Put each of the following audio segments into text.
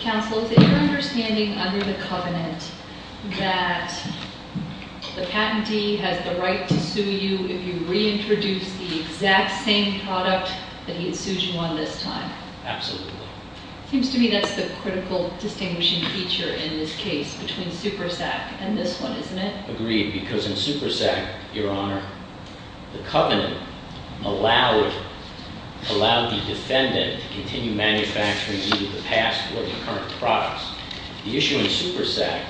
Counsel, is it your understanding under the Covenant that the patentee has the right to sue you if you reintroduce the exact same product that he had sued you on this time? Absolutely. Seems to me that's the critical distinguishing feature in this case between SuperSac and this one, isn't it? Agreed, because in SuperSac, Your Honor, the Covenant allowed the defendant to continue manufacturing either the past or the current products. The issue in SuperSac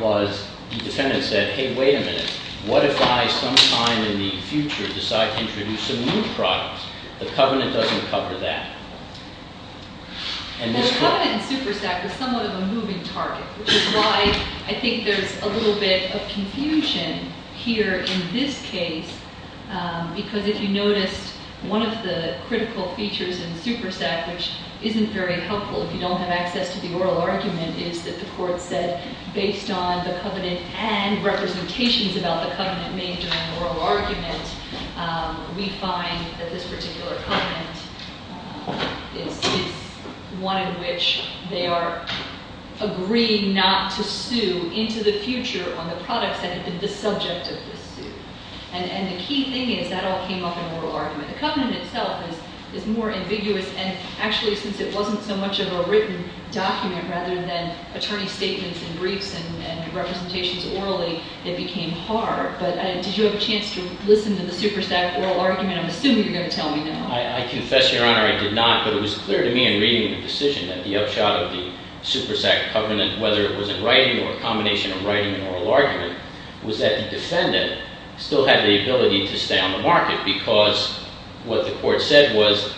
was the defendant said, hey, wait a minute, what if I sometime in the future decide to introduce some new products? The Covenant doesn't cover that. The Covenant in SuperSac was somewhat of a moving target, which is why I think there's a little bit of confusion here in this case, because if you noticed, one of the critical features in SuperSac, which isn't very helpful if you don't have access to the oral argument, is that the court said, based on the Covenant and representations about the Covenant made during oral argument, we find that this particular Covenant is one in which they are agreeing not to sue into the future on the products that have been the subject of the sue. And the key thing is that all came up in oral argument. The Covenant itself is more ambiguous. And actually, since it wasn't so much of a written document rather than attorney statements and briefs and representations orally, it became hard. But did you have a chance to listen to the SuperSac oral argument? I'm assuming you're going to tell me now. I confess, Your Honor, I did not. But it was clear to me in reading the decision that the upshot of the SuperSac Covenant, whether it was in writing or a combination of writing and oral argument, was that the defendant still had the ability to stay on the market. Because what the court said was,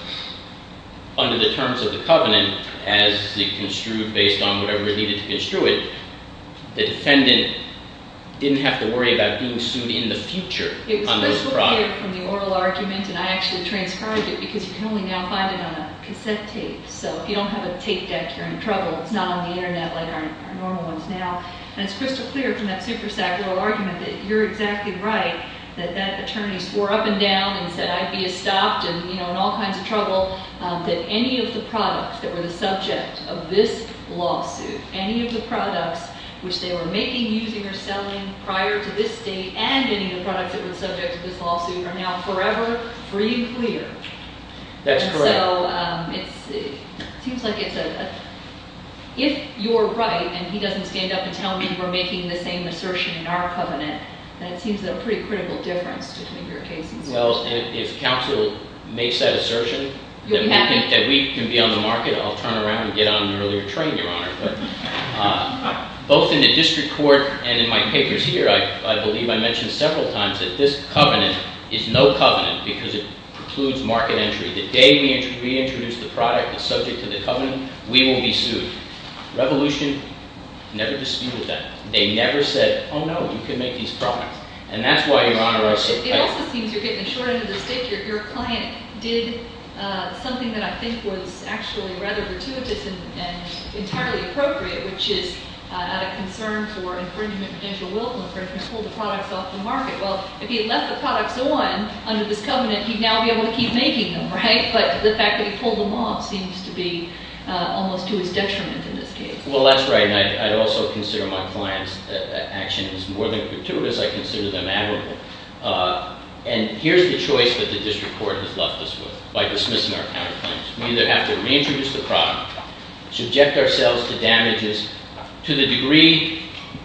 under the terms of the Covenant, as they construed based on whatever it needed to construe it, the defendant didn't have to worry about being sued in the future on those products. I get it from the oral argument. And I actually transcribed it, because you can only now find it on a cassette tape. So if you don't have a tape deck, you're in trouble. It's not on the internet like our normal ones now. And it's crystal clear from that SuperSac oral argument that you're exactly right, that that attorney swore up and down and said, I'd be stopped and in all kinds of trouble, that any of the products that were the subject of this lawsuit, any of the products which they were making, using, or selling prior to this date, and any of the products that were the subject of this lawsuit, are now forever free and clear. That's correct. And so it seems like it's a, if you're right and he doesn't stand up and tell me we're making the same assertion in our covenant, then it seems like a pretty critical difference between your case as well. And if counsel makes that assertion, that we can be on the market, I'll turn around and get on an earlier train, Your Honor. But both in the district court and in my papers here, I believe I mentioned several times that this covenant is no covenant, because it precludes market entry. The day we introduce the product that's subject to the covenant, we will be sued. Revolution never disputed that. They never said, oh, no, you can make these products. And that's why, Your Honor, I suppose. It also seems you're getting a short end of the stick. Your client did something that I think was actually rather gratuitous and entirely appropriate, which is out of concern for infringement, potential willful infringement. He pulled the products off the market. Well, if he had left the products on under this covenant, he'd now be able to keep making them, right? But the fact that he pulled them off seems to be almost to his detriment in this case. Well, that's right. And I'd also consider my client's action is more than gratuitous. I consider them admirable. And here's the choice that the district court has left us with by dismissing our counterclaims. We either have to reintroduce the product, subject ourselves to damages to the degree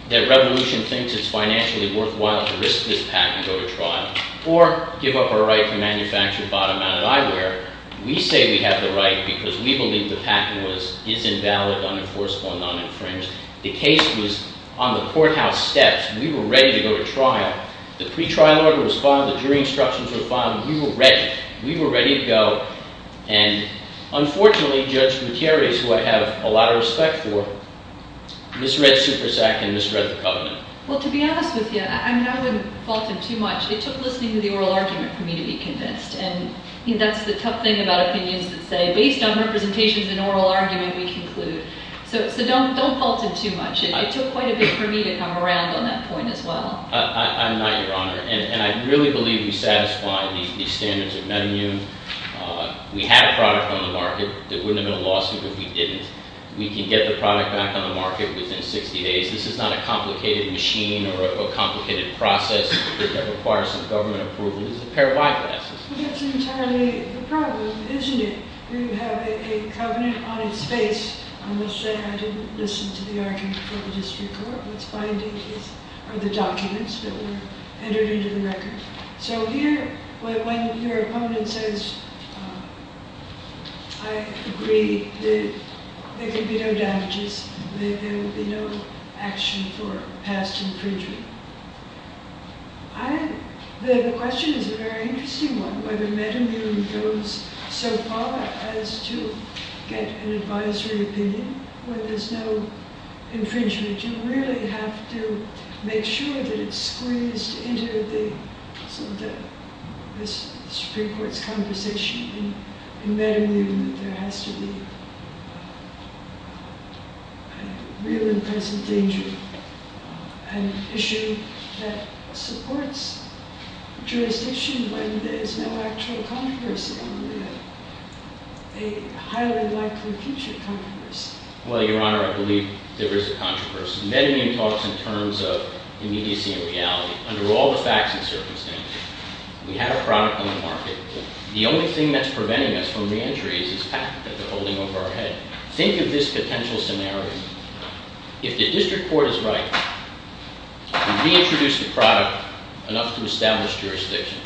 that Revolution thinks it's financially worthwhile to risk this patent over trial, or give up our right to manufacture bottom-outed eyewear. We say we have the right because we believe the patent is invalid, unenforceable, and non-infringed. The case was on the courthouse steps. We were ready to go to trial. The pre-trial order was filed. The jury instructions were filed. We were ready. We were ready to go. And unfortunately, Judge Gutierrez, who I have a lot of respect for, misread Supersac and misread the covenant. Well, to be honest with you, I wouldn't fault him too much. It took listening to the oral argument for me to be convinced. And that's the tough thing about opinions that say, based on representations and oral argument, we conclude. So don't fault him too much. It took quite a bit for me to come around on that point as well. I'm not, Your Honor. And I really believe we satisfy these standards of menu. We have a product on the market that wouldn't have been a lawsuit if we didn't. We can get the product back on the market within 60 days. This is not a complicated machine or a complicated process that requires some government approval. It's a pair of eyeglasses. Well, that's entirely the problem, isn't it? You have a covenant on its face. I'm going to say I didn't listen to the argument for the district court. What's binding are the documents that were entered into the record. So here, when your opponent says, I agree, there could be no damages. There would be no action for past infringement. The question is a very interesting one, whether metamune goes so far as to get an advisory opinion where there's no infringement. You really have to make sure that it's squeezed into the Supreme Court's conversation. In metamune, there has to be a real and present danger. An issue that supports jurisdiction when there's no actual controversy. A highly likely future controversy. Well, Your Honor, I believe there is a controversy. Metamune talks in terms of immediacy and reality. Under all the facts and circumstances, we have a product on the market. The only thing that's preventing us from re-entry is this patent that they're holding over our head. Think of this potential scenario. If the district court is right to reintroduce the product enough to establish jurisdiction,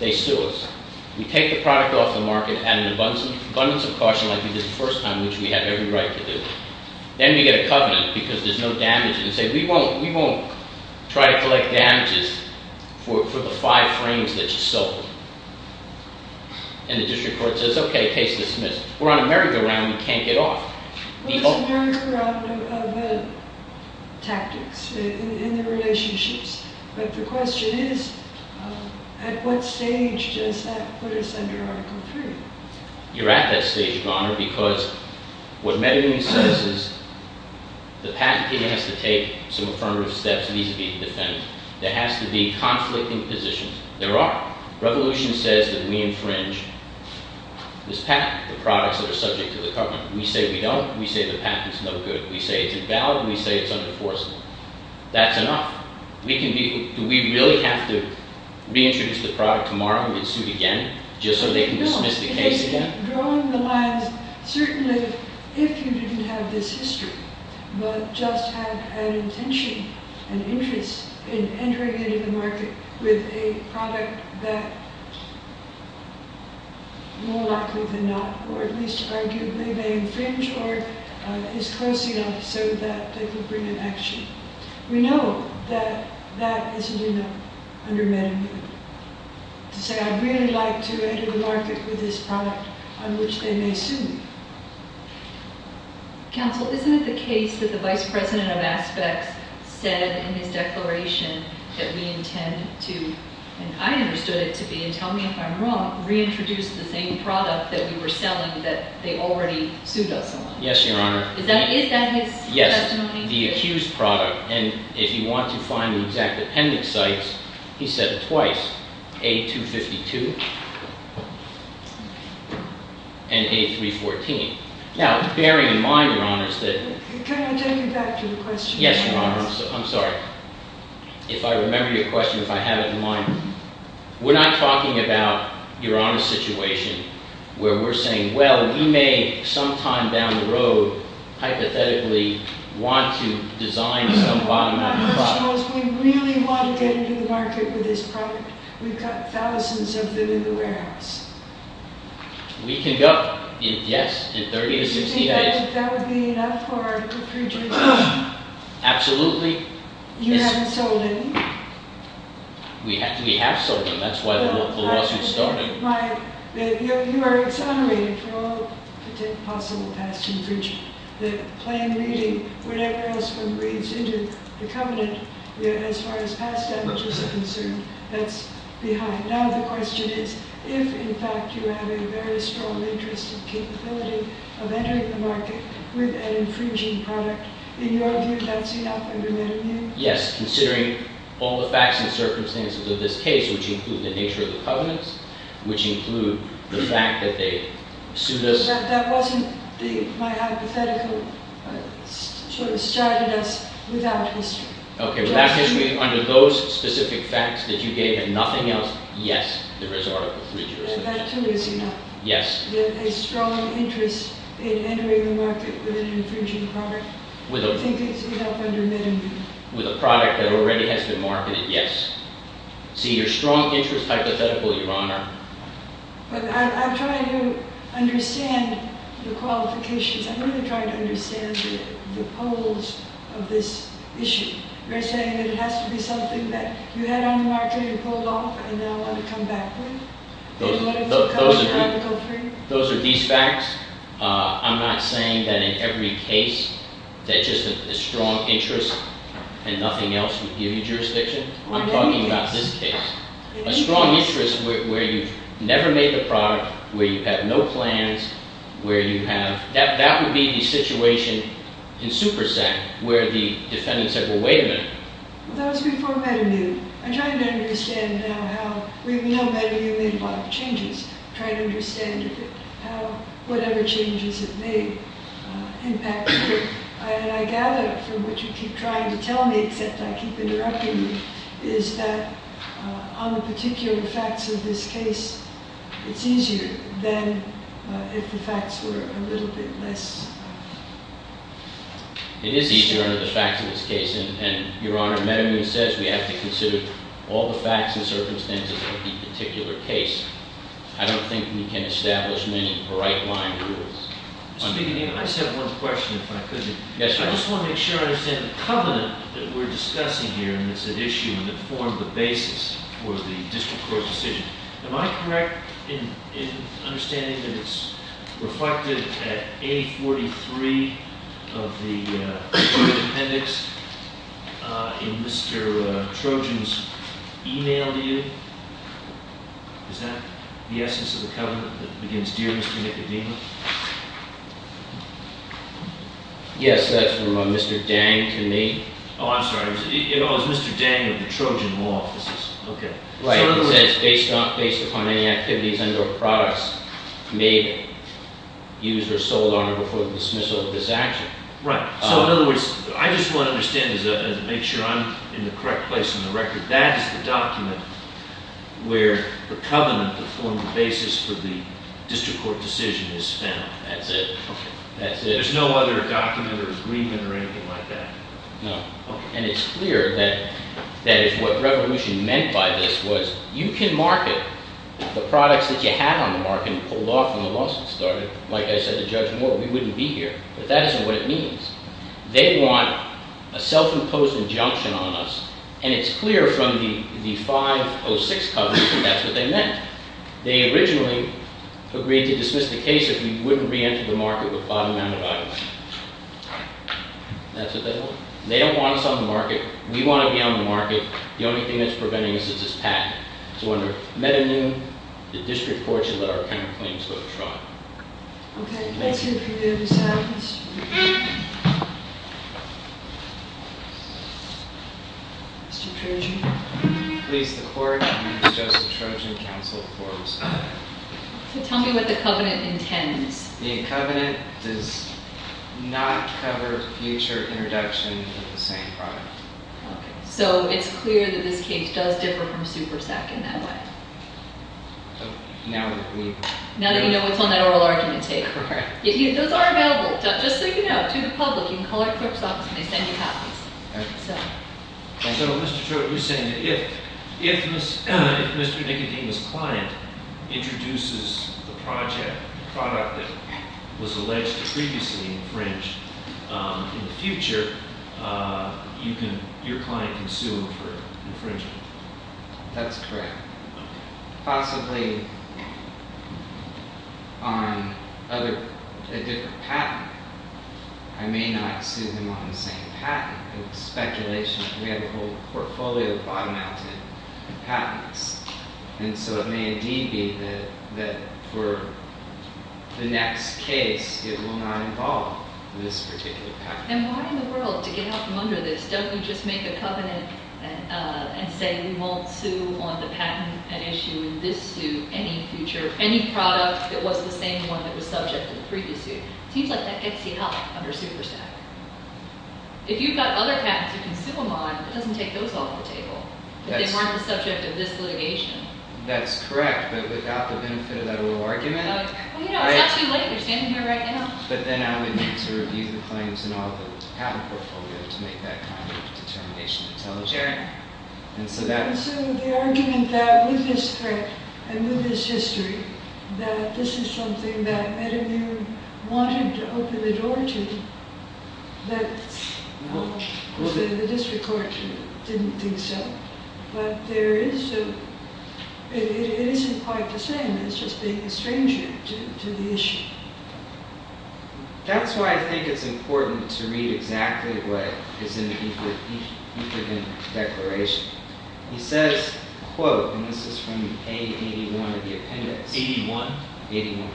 they sue us. We take the product off the market, add an abundance of caution like we did the first time, which we have every right to do. Then we get a covenant because there's no damages. They say, we won't try to collect damages for the five frames that you sold. And the district court says, okay, case dismissed. We're on a merry-go-round, we can't get off. It's a merry-go-round of tactics in the relationships. But the question is, at what stage does that put us under Article III? You're at that stage of honor because what Metamune says is the patent has to take some affirmative steps. It needs to be defended. There has to be conflict in positions. There are. Revolution says that we infringe this patent, the products that are subject to the government. We say we don't. We say the patent's no good. We say it's invalid. We say it's under-enforced. That's enough. Do we really have to reintroduce the product tomorrow and get sued again just so they can dismiss the case? Drawing the lines, certainly if you didn't have this history, but just had an intention, an interest in entering into the market with a product that more likely than not, or at least arguably they infringe or is close enough so that they can bring an action. We know that that isn't enough under Metamune. To say I'd really like to enter the market with this product on which they may sue me. Counsel, isn't it the case that the Vice President of Aspects said in his declaration that we intend to, and I understood it to be, and tell me if I'm wrong, reintroduce the same product that we were selling that they already sued us on? Yes, Your Honor. Is that his question? Yes. The accused product. And if you want to find the exact appendix sites, he said it twice. A252 and A314. Now, bearing in mind, Your Honor, that... Can I take it back to the question? Yes, Your Honor. I'm sorry. If I remember your question, if I have it in mind. We're not talking about, Your Honor, a situation where we're saying, well, he may sometime down the road, hypothetically, want to design some bottom-up product. We really want to get into the market with this product. We've got thousands of them in the warehouse. We can go, yes, in 30 to 60 days. Do you think that would be enough for a pre-judgment? Absolutely. You haven't sold any? We have sold them. That's why the lawsuit started. You are exonerated for all possible past infringement. The plain reading, whatever else one reads into the covenant, as far as past damages are concerned, that's behind. Now the question is, if, in fact, you have a very strong interest and capability of entering the market with an infringing product, in your view, that's enough? Yes, considering all the facts and circumstances of this case, which include the nature of the covenants, which include the fact that they sued us. That wasn't my hypothetical. It sort of straddled us without history. Okay, without history, under those specific facts that you gave, and nothing else, yes, there is article three jurisdiction. That clearly is enough. Yes. That a strong interest in entering the market with an infringing product, I think is enough under minimum. With a product that already has been marketed, yes. See, your strong interest hypothetical, Your Honor. But I'm trying to understand the qualifications. I'm really trying to understand the poles of this issue. You're saying that it has to be something that you had on the market and pulled off and now want to come back with? Those are these facts. I'm not saying that in every case that just a strong interest and nothing else would give you jurisdiction. I'm talking about this case. A strong interest where you've never made the product, where you have no plans, where you have – that would be the situation in Supersan where the defendant said, well, wait a minute. Well, that was before Meta knew. I'm trying to understand now how – we know Meta knew and made a lot of changes. I'm trying to understand how whatever changes it made impacted you. And I gather from what you keep trying to tell me, except I keep interrupting you, is that on the particular facts of this case, it's easier than if the facts were a little bit less. It is easier under the facts of this case. And, Your Honor, Meta knew and says we have to consider all the facts and circumstances of the particular case. I don't think we can establish many right-line rules. I just have one question, if I could. Yes, Your Honor. I just want to make sure I understand the covenant that we're discussing here and that's at issue and that formed the basis for the district court decision. Am I correct in understanding that it's reflected at A43 of the appendix in Mr. Trojan's email to you? Is that the essence of the covenant that begins, Dear Mr. Nicodemus? Yes, that's from Mr. Dang to me. Oh, I'm sorry. It was Mr. Dang of the Trojan Law Offices. Okay. Right. It says, based upon any activities under a products made, used, or sold on her before the dismissal of this action. Right. So, in other words, I just want to understand and make sure I'm in the correct place on the record. That is the document where the covenant that formed the basis for the district court decision is found. That's it. Okay. That's it. There's no other document or agreement or anything like that? No. Okay. And it's clear that is what Revolution meant by this was you can market the products that you have on the market and pull off when the lawsuit started. Like I said to Judge Moore, we wouldn't be here. But that isn't what it means. They want a self-imposed injunction on us, and it's clear from the 506 covenant that that's what they meant. They originally agreed to dismiss the case if we wouldn't reenter the market with bottom-mounted items. That's what they want. They don't want us on the market. We want to be on the market. The only thing that's preventing us is this patent. So, under Meta New, the district court should let our counterclaims go to trial. Okay. Let's hear from the other side. Mr. Trojan. Please, the court. Mr. Joseph Trojan, Counsel, Forbes. So, tell me what the covenant intends. The covenant does not cover future introduction of the same product. Okay. So, it's clear that this case does differ from SuperSec in that way. Now that we've... Those are available, just so you know, to the public. You can call our clerk's office, and they send you copies. So, Mr. Trojan, you're saying that if Mr. Nicodemus' client introduces the product that was alleged to previously infringe in the future, your client can sue him for infringement. That's correct. Possibly on a different patent. I may not sue him on the same patent. It's speculation. We have a whole portfolio of bottom-mounted patents. And so, it may indeed be that for the next case, it will not involve this particular patent. And why in the world, to get out from under this, don't you just make a covenant and say, we won't sue on the patent that issued this suit any future... any product that was the same one that was subject to the previous suit? It seems like that gets you out under SuperSec. If you've got other patents you can sue them on, it doesn't take those off the table, that they weren't the subject of this litigation. That's correct, but without the benefit of that little argument. Well, you know, it's not too late. You're standing here right now. But then I would need to review the claims and all the patent portfolio to make that kind of determination to tell the jury. And so that... And so the argument that with this threat and with this history, that this is something that Ed and you wanted to open the door to, that the district court didn't think so. But there is a... It isn't quite the same, it's just being estranged to the issue. That's why I think it's important to read exactly what is in the Equipment Declaration. It says, quote, and this is from A81 of the appendix. 81? 81.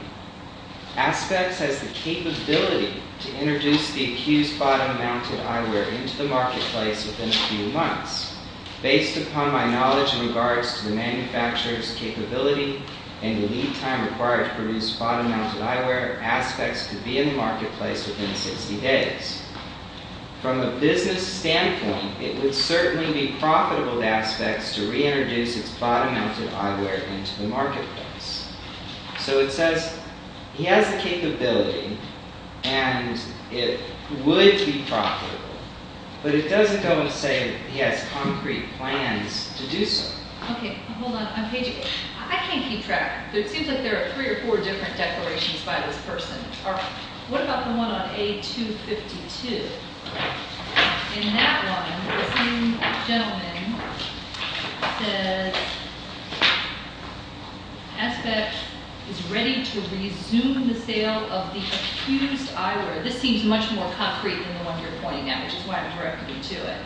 Aspects has the capability to introduce the accused bottom-mounted eyewear into the marketplace within a few months. Based upon my knowledge in regards to the manufacturer's capability and the lead time required to produce bottom-mounted eyewear, aspects could be in the marketplace within 60 days. From a business standpoint, it would certainly be profitable to aspects to reintroduce its bottom-mounted eyewear into the marketplace. So it says he has the capability and it would be profitable, but it doesn't go and say he has concrete plans to do so. Okay, hold on. I'm paging. I can't keep track. It seems like there are three or four different declarations by this person. All right. What about the one on A252? In that one, the same gentleman says, Aspects is ready to resume the sale of the accused eyewear. This seems much more concrete than the one you're pointing at, which is why I'm directing you to it.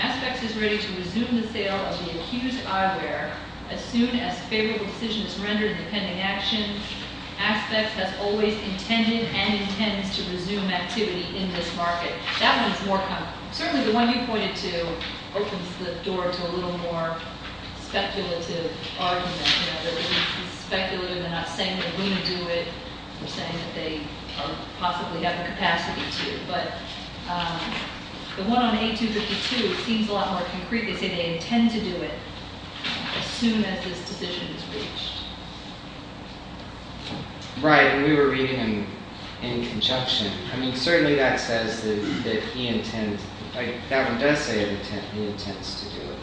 Aspects is ready to resume the sale of the accused eyewear as soon as favorable decision is rendered in the pending action. Aspects has always intended and intends to resume activity in this market. That one is more concrete. Certainly the one you pointed to opens the door to a little more speculative argument. You know, it's speculative. They're not saying they're going to do it. They're saying that they possibly have the capacity to. But the one on A252 seems a lot more concrete. They say they intend to do it as soon as this decision is reached. Right. And we were reading them in conjunction. I mean, certainly that says that he intends. That one does say he intends to do it.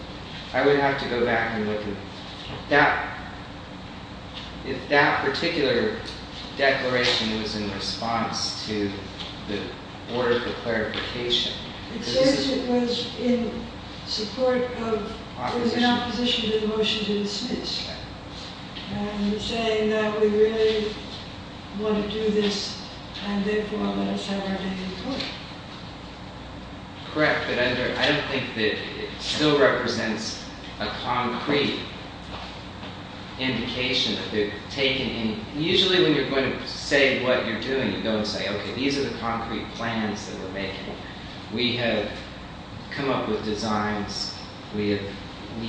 I would have to go back and look at that. If that particular declaration was in response to the order of the clarification. It says it was in support of, it was in opposition to the motion to dismiss. Right. And we're saying that we really want to do this and therefore let us have our day in court. Correct, but I don't think that it still represents a concrete indication that they're taking. Usually when you're going to say what you're doing, you go and say, okay, these are the concrete plans that we're making. We have come up with designs. We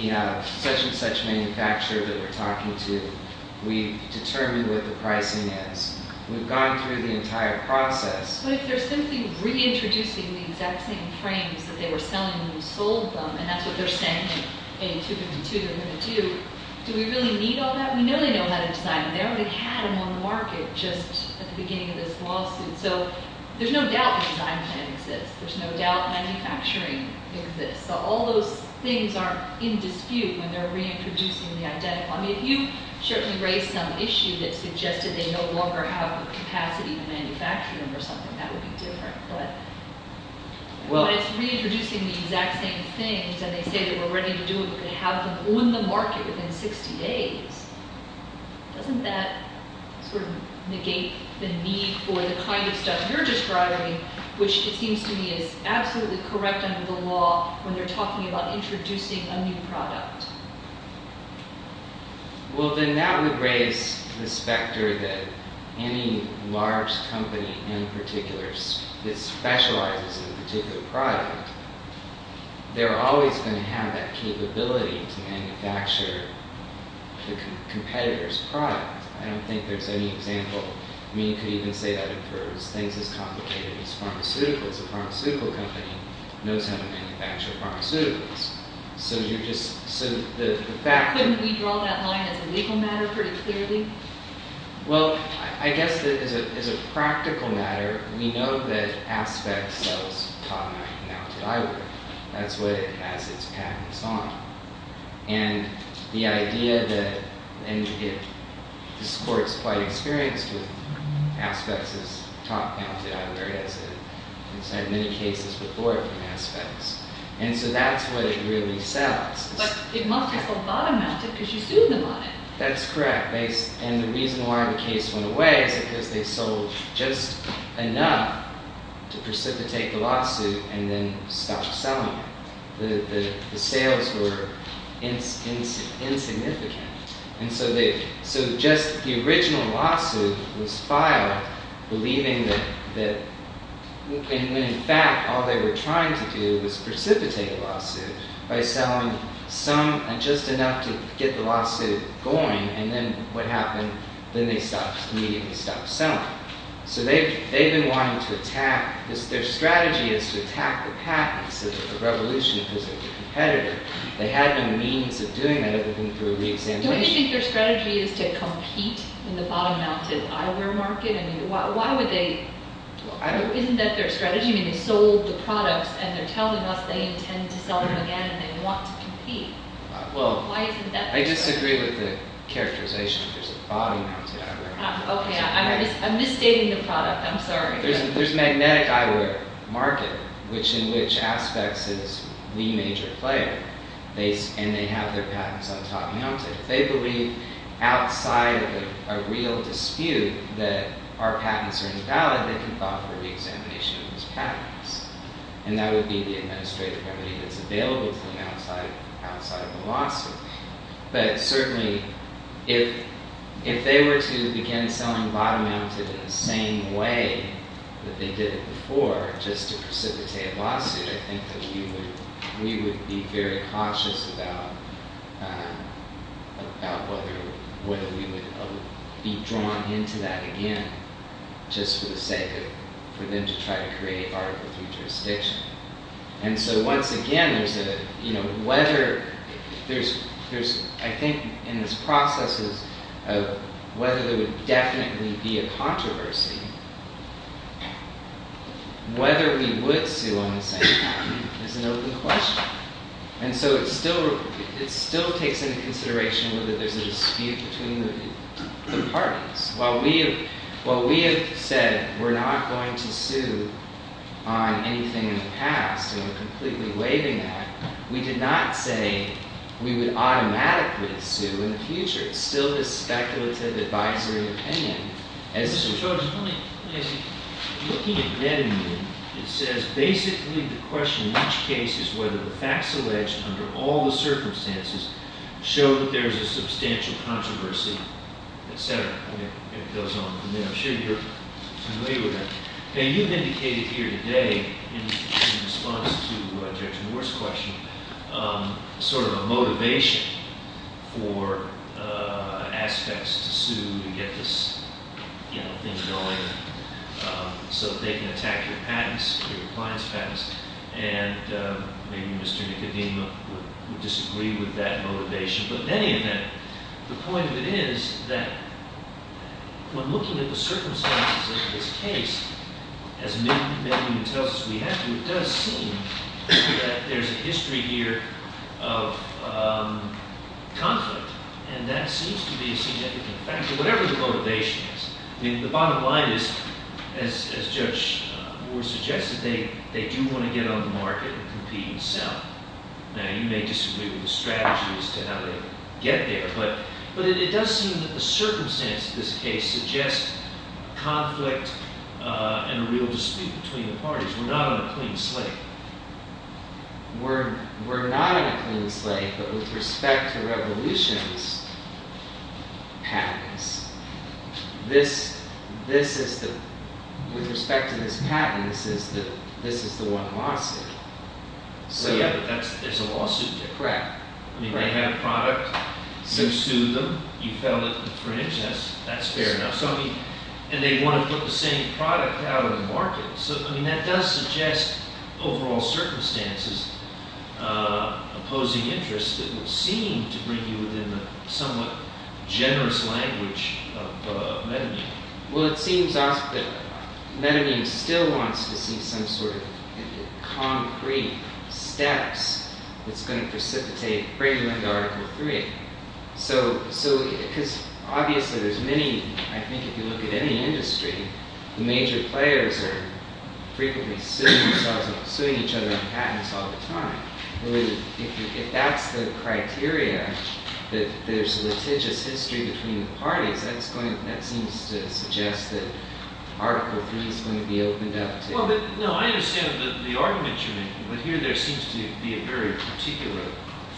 have such and such manufacturer that we're talking to. We've determined what the pricing is. We've gone through the entire process. But if they're simply reintroducing the exact same frames that they were selling when we sold them, and that's what they're saying in A252 they're going to do, do we really need all that? We know they know how to design. They already had them on the market just at the beginning of this lawsuit. So there's no doubt the design plan exists. There's no doubt manufacturing exists. So all those things aren't in dispute when they're reintroducing the identical. I mean, if you certainly raised some issue that suggested they no longer have the capacity to manufacture them or something, that would be different, but when it's reintroducing the exact same things and they say that we're ready to do it, we're going to have them on the market within 60 days, doesn't that sort of negate the need for the kind of stuff you're describing, which it seems to me is absolutely correct under the law when they're talking about introducing a new product? Well, then that would raise the specter that any large company in particular that specializes in a particular product, they're always going to have that capability to manufacture the competitor's product. I don't think there's any example. I mean, you could even say that for things as complicated as pharmaceuticals. A pharmaceutical company knows how to manufacture pharmaceuticals. Couldn't we draw that line as a legal matter pretty clearly? Well, I guess that as a practical matter, we know that Aspex sells top-mounted eyewear. That's what it has its patents on. And the idea that, and this court's quite experienced with Aspex's top-mounted eyewear. It's had many cases before from Aspex. And so that's what it really sells. But it must have sold bottom-mounted because you sued them on it. That's correct. And the reason why the case went away is because they sold just enough to precipitate the lawsuit and then stopped selling it. The sales were insignificant. So just the original lawsuit was filed believing that, and in fact, all they were trying to do was precipitate the lawsuit by selling just enough to get the lawsuit going. And then what happened? Then they immediately stopped selling. So they've been wanting to attack, their strategy is to attack the patents of the revolution as a competitor. They had no means of doing that other than through re-examination. Don't you think their strategy is to compete in the bottom-mounted eyewear market? I mean, why would they? Isn't that their strategy? I mean, they sold the products and they're telling us they intend to sell them again and they want to compete. Well, I disagree with the characterization that there's a bottom-mounted eyewear market. Okay, I'm misstating the product. I'm sorry. There's a magnetic eyewear market in which Aspex is the major player and they have their patents on top-mounted. If they believe outside of a real dispute that our patents are invalid, they can offer re-examination of those patents. And that would be the administrative remedy that's available to them outside of the lawsuit. But certainly, if they were to begin selling bottom-mounted in the same way that they did it before, just to precipitate a lawsuit, I think that we would be very cautious about whether we would be drawn into that again, just for the sake of, for them to try to create article 3 jurisdiction. And so, once again, I think in this process of whether there would definitely be a controversy, whether we would sue on the same patent is an open question. And so, it still takes into consideration whether there's a dispute between the parties. While we have said we're not going to sue on anything in the past, and we're completely waiving that, we did not say we would automatically sue in the future. It's still this speculative advisory opinion. As you're looking at that opinion, it says, basically, the question in each case is whether the facts alleged under all the circumstances show that there's a substantial controversy, etc. It goes on from there. I'm sure you're familiar with that. Now, you've indicated here today, in response to Judge Moore's question, sort of a motivation for aspects to sue to get this, you know, thing going so that they can attack your patents, your appliance patents. And maybe Mr. Nicodemo would disagree with that motivation. But in any event, the point of it is that when looking at the circumstances of this case, as many of you tell us we have to, it does seem that there's a history here of conflict. And that seems to be a significant factor, whatever the motivation is. I mean, the bottom line is, as Judge Moore suggested, they do want to get on the market and compete and sell. Now, you may disagree with the strategy as to how they get there. But it does seem that the circumstances of this case suggest conflict and a real dispute between the parties. We're not on a clean slate. We're not on a clean slate, but with respect to Revolution's patents, this is the, with respect to this patent, this is the one lawsuit. So yeah, but that's, there's a lawsuit there. Correct. I mean, they have a product, you sue them, you file it for an interest, that's fair enough. So, I mean, and they want to put the same product out on the market. So, I mean, that does suggest overall circumstances opposing interests that would seem to bring you within the somewhat generous language of Metamine. Well, it seems that Metamine still wants to see some sort of concrete steps that's going to precipitate bringing them to Article 3. So, because obviously there's many, I think if you look at any industry, the major players are frequently suing each other on patents all the time. If that's the criteria, that there's litigious history between the parties, that's going, that seems to suggest that Article 3 is going to be opened up to. Well, but, no, I understand the argument you're making, but here there seems to be a very particular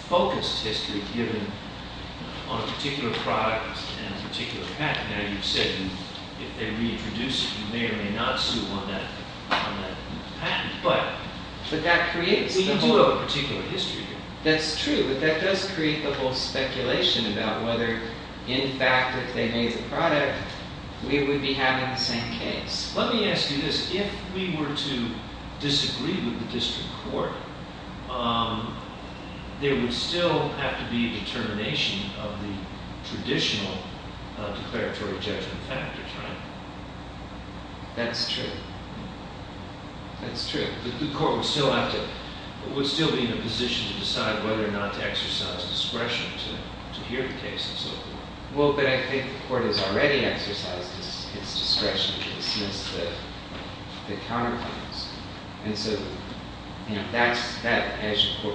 focused history given on a particular product and a particular patent. Now, you've said if they reintroduce it, you may or may not sue on that patent, but. But that creates the whole. Well, you do have a particular history here. That's true, but that does create the whole speculation about whether, in fact, if they made the product, we would be having the same case. Let me ask you this. If we were to disagree with the district court, there would still have to be a determination of the traditional declaratory judgment factors, right? That's true. That's true. The court would still have to, would still be in a position to decide whether or not to exercise discretion to hear the case and so forth. Well, but I think the court has already exercised its discretion to dismiss the counterclaims. And so, you know, that's, as you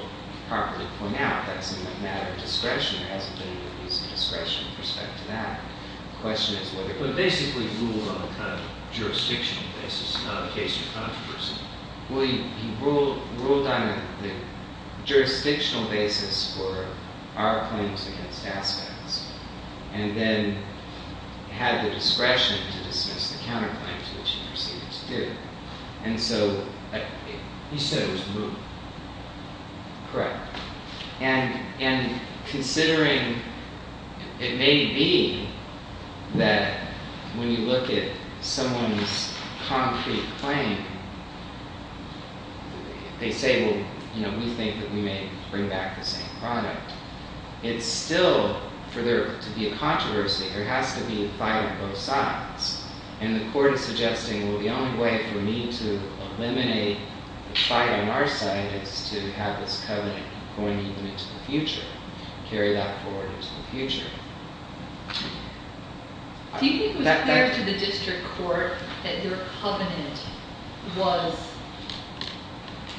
properly point out, that's a matter of discretion. There hasn't been any use of discretion with respect to that. But basically rule on the kind of jurisdictional basis in the case of controversy. Well, he ruled on the jurisdictional basis for our claims against Aspen, and then had the discretion to dismiss the counterclaims, which he received as due. And so he said it was removed. Correct. And considering it may be that when you look at someone's concrete claim, they say, well, you know, we think that we may bring back the same product. It's still, for there to be a controversy, there has to be a fight on both sides. And the court is suggesting, well, the only way for me to eliminate the fight on our side is to have this covenant going even into the future, carry that forward into the future. Do you think it was clear to the district court that your covenant was,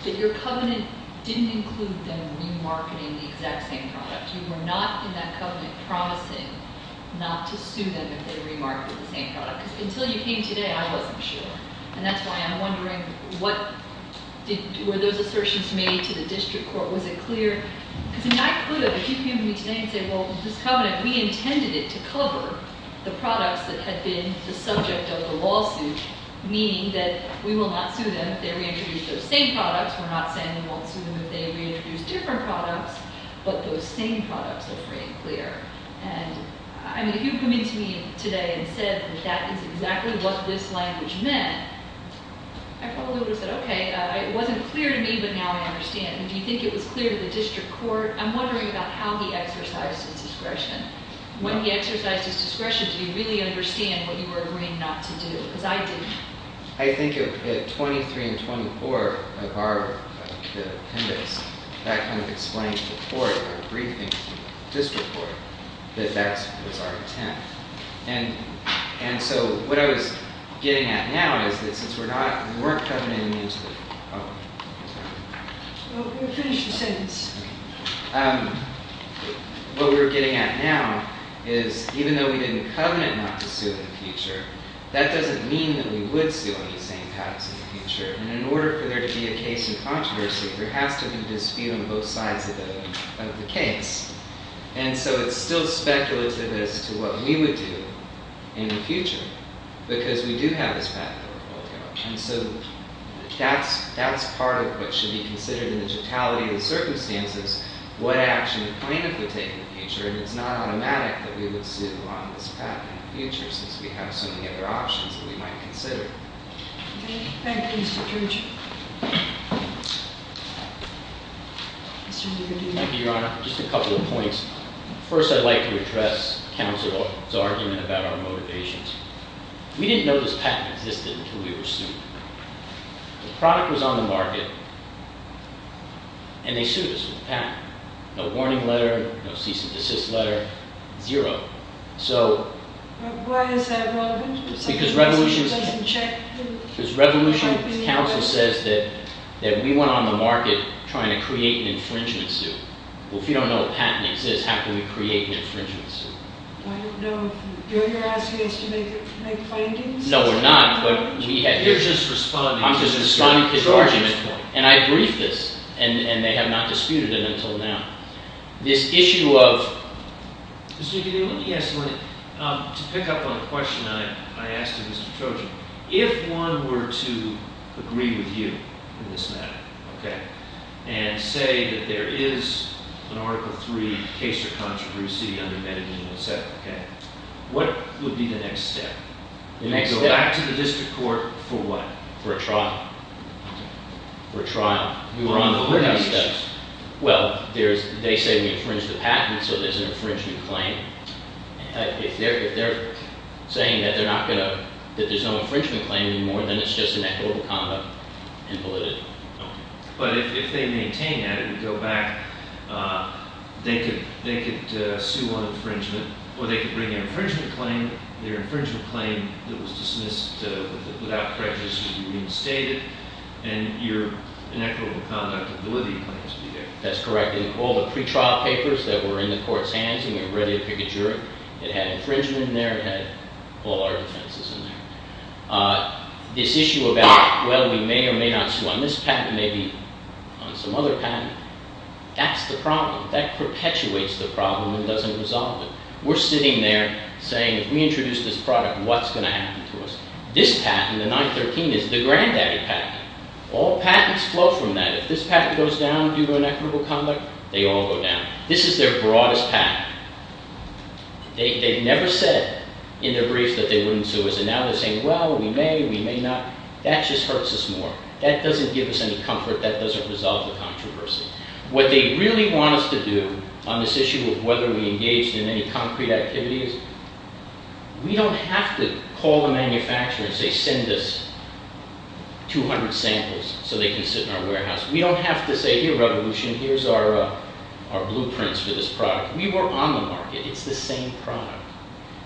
that your covenant didn't include them remarketing the exact same product? You were not in that covenant promising not to sue them if they remarketed the same product? Because until you came today, I wasn't sure. And that's why I'm wondering, were those assertions made to the district court? Was it clear? Because I mean, I could have, if you came to me today and said, well, this covenant, we intended it to cover the products that had been the subject of the lawsuit, meaning that we will not sue them if they reintroduce those same products. We're not saying we won't sue them if they reintroduce different products, but those same products are free and clear. And I mean, if you come into me today and said that that is exactly what this language meant, I probably would have said, OK. It wasn't clear to me, but now I understand. And do you think it was clear to the district court? I'm wondering about how he exercised his discretion. When he exercised his discretion, did he really understand what you were agreeing not to do? Because I didn't. I think at 23 and 24 of our appendix, that kind of explains to the court, our briefing to the district court, that that was our intent. And so what I was getting at now is that since we're not, we weren't covenanting into the, oh, sorry. Finish your sentence. What we're getting at now is even though we didn't covenant not to sue in the future, that doesn't mean that we would sue on these same patents in the future. And in order for there to be a case of controversy, there has to be a dispute on both sides of the case. And so it's still speculative as to what we would do in the future because we do have this patent. And so that's part of what should be considered in the totality of the circumstances, what action the plaintiff would take in the future. And it's not automatic that we would sue on this patent in the future since we have so many other options that we might consider. Thank you, Mr. Church. Thank you, Your Honor. Just a couple of points. First, I'd like to address counsel's argument about our motivations. We didn't know this patent existed until we were sued. The product was on the market, and they sued us with a patent. No warning letter, no cease and desist letter, zero. So… But why is that relevant? Because Revolution Counsel says that we went on the market trying to create an infringement suit. Well, if you don't know a patent exists, how can we create an infringement suit? I don't know if you're asking us to make findings. No, we're not. You're just responding to Mr. Church's point. I'm just responding to his argument. And I briefed this, and they have not disputed it until now. This issue of… Mr. Dugan, let me ask you one thing. To pick up on the question I asked of Mr. Trojan, if one were to agree with you on this matter, okay, and say that there is an Article III case of controversy under Medellin, et cetera, okay, what would be the next step? The next step… Go back to the district court for what? For a trial. Okay. For a trial. We were on the lookout steps. What are the next steps? Well, there's… They say we infringed the patent, so there's an infringement claim. If they're saying that they're not going to… that there's no infringement claim anymore, then it's just inequitable conduct and validity. Okay. But if they maintain that and go back, they could sue on infringement, or they could bring an infringement claim, their infringement claim that was dismissed without prejudice would be reinstated, and your inequitable conduct and validity claims would be there. That's correct. In all the pretrial papers that were in the court's hands when we were ready to pick a juror, it had infringement in there, it had all our defenses in there. This issue about, well, we may or may not sue on this patent, maybe on some other patent, that's the problem. That perpetuates the problem and doesn't resolve it. We're sitting there saying, if we introduce this product, what's going to happen to us? This patent, the 913, is the granddaddy patent. All patents flow from that. If this patent goes down due to inequitable conduct, they all go down. This is their broadest patent. They never said in their briefs that they wouldn't sue us, and now they're saying, well, we may, we may not. That just hurts us more. That doesn't give us any comfort. That doesn't resolve the controversy. What they really want us to do on this issue of whether we engaged in any concrete activities, we don't have to call the manufacturer and say, send us 200 samples so they can sit in our warehouse. We don't have to say, here, Revolution, here's our blueprints for this product. We were on the market. It's the same product.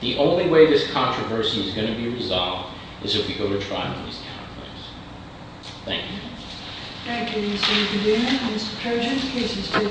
The only way this controversy is going to be resolved is if we go to trial in these counterclaims. Thank you. Thank you, Mr. Kudema. Mr. Kudema, please, you still have a minute to finish.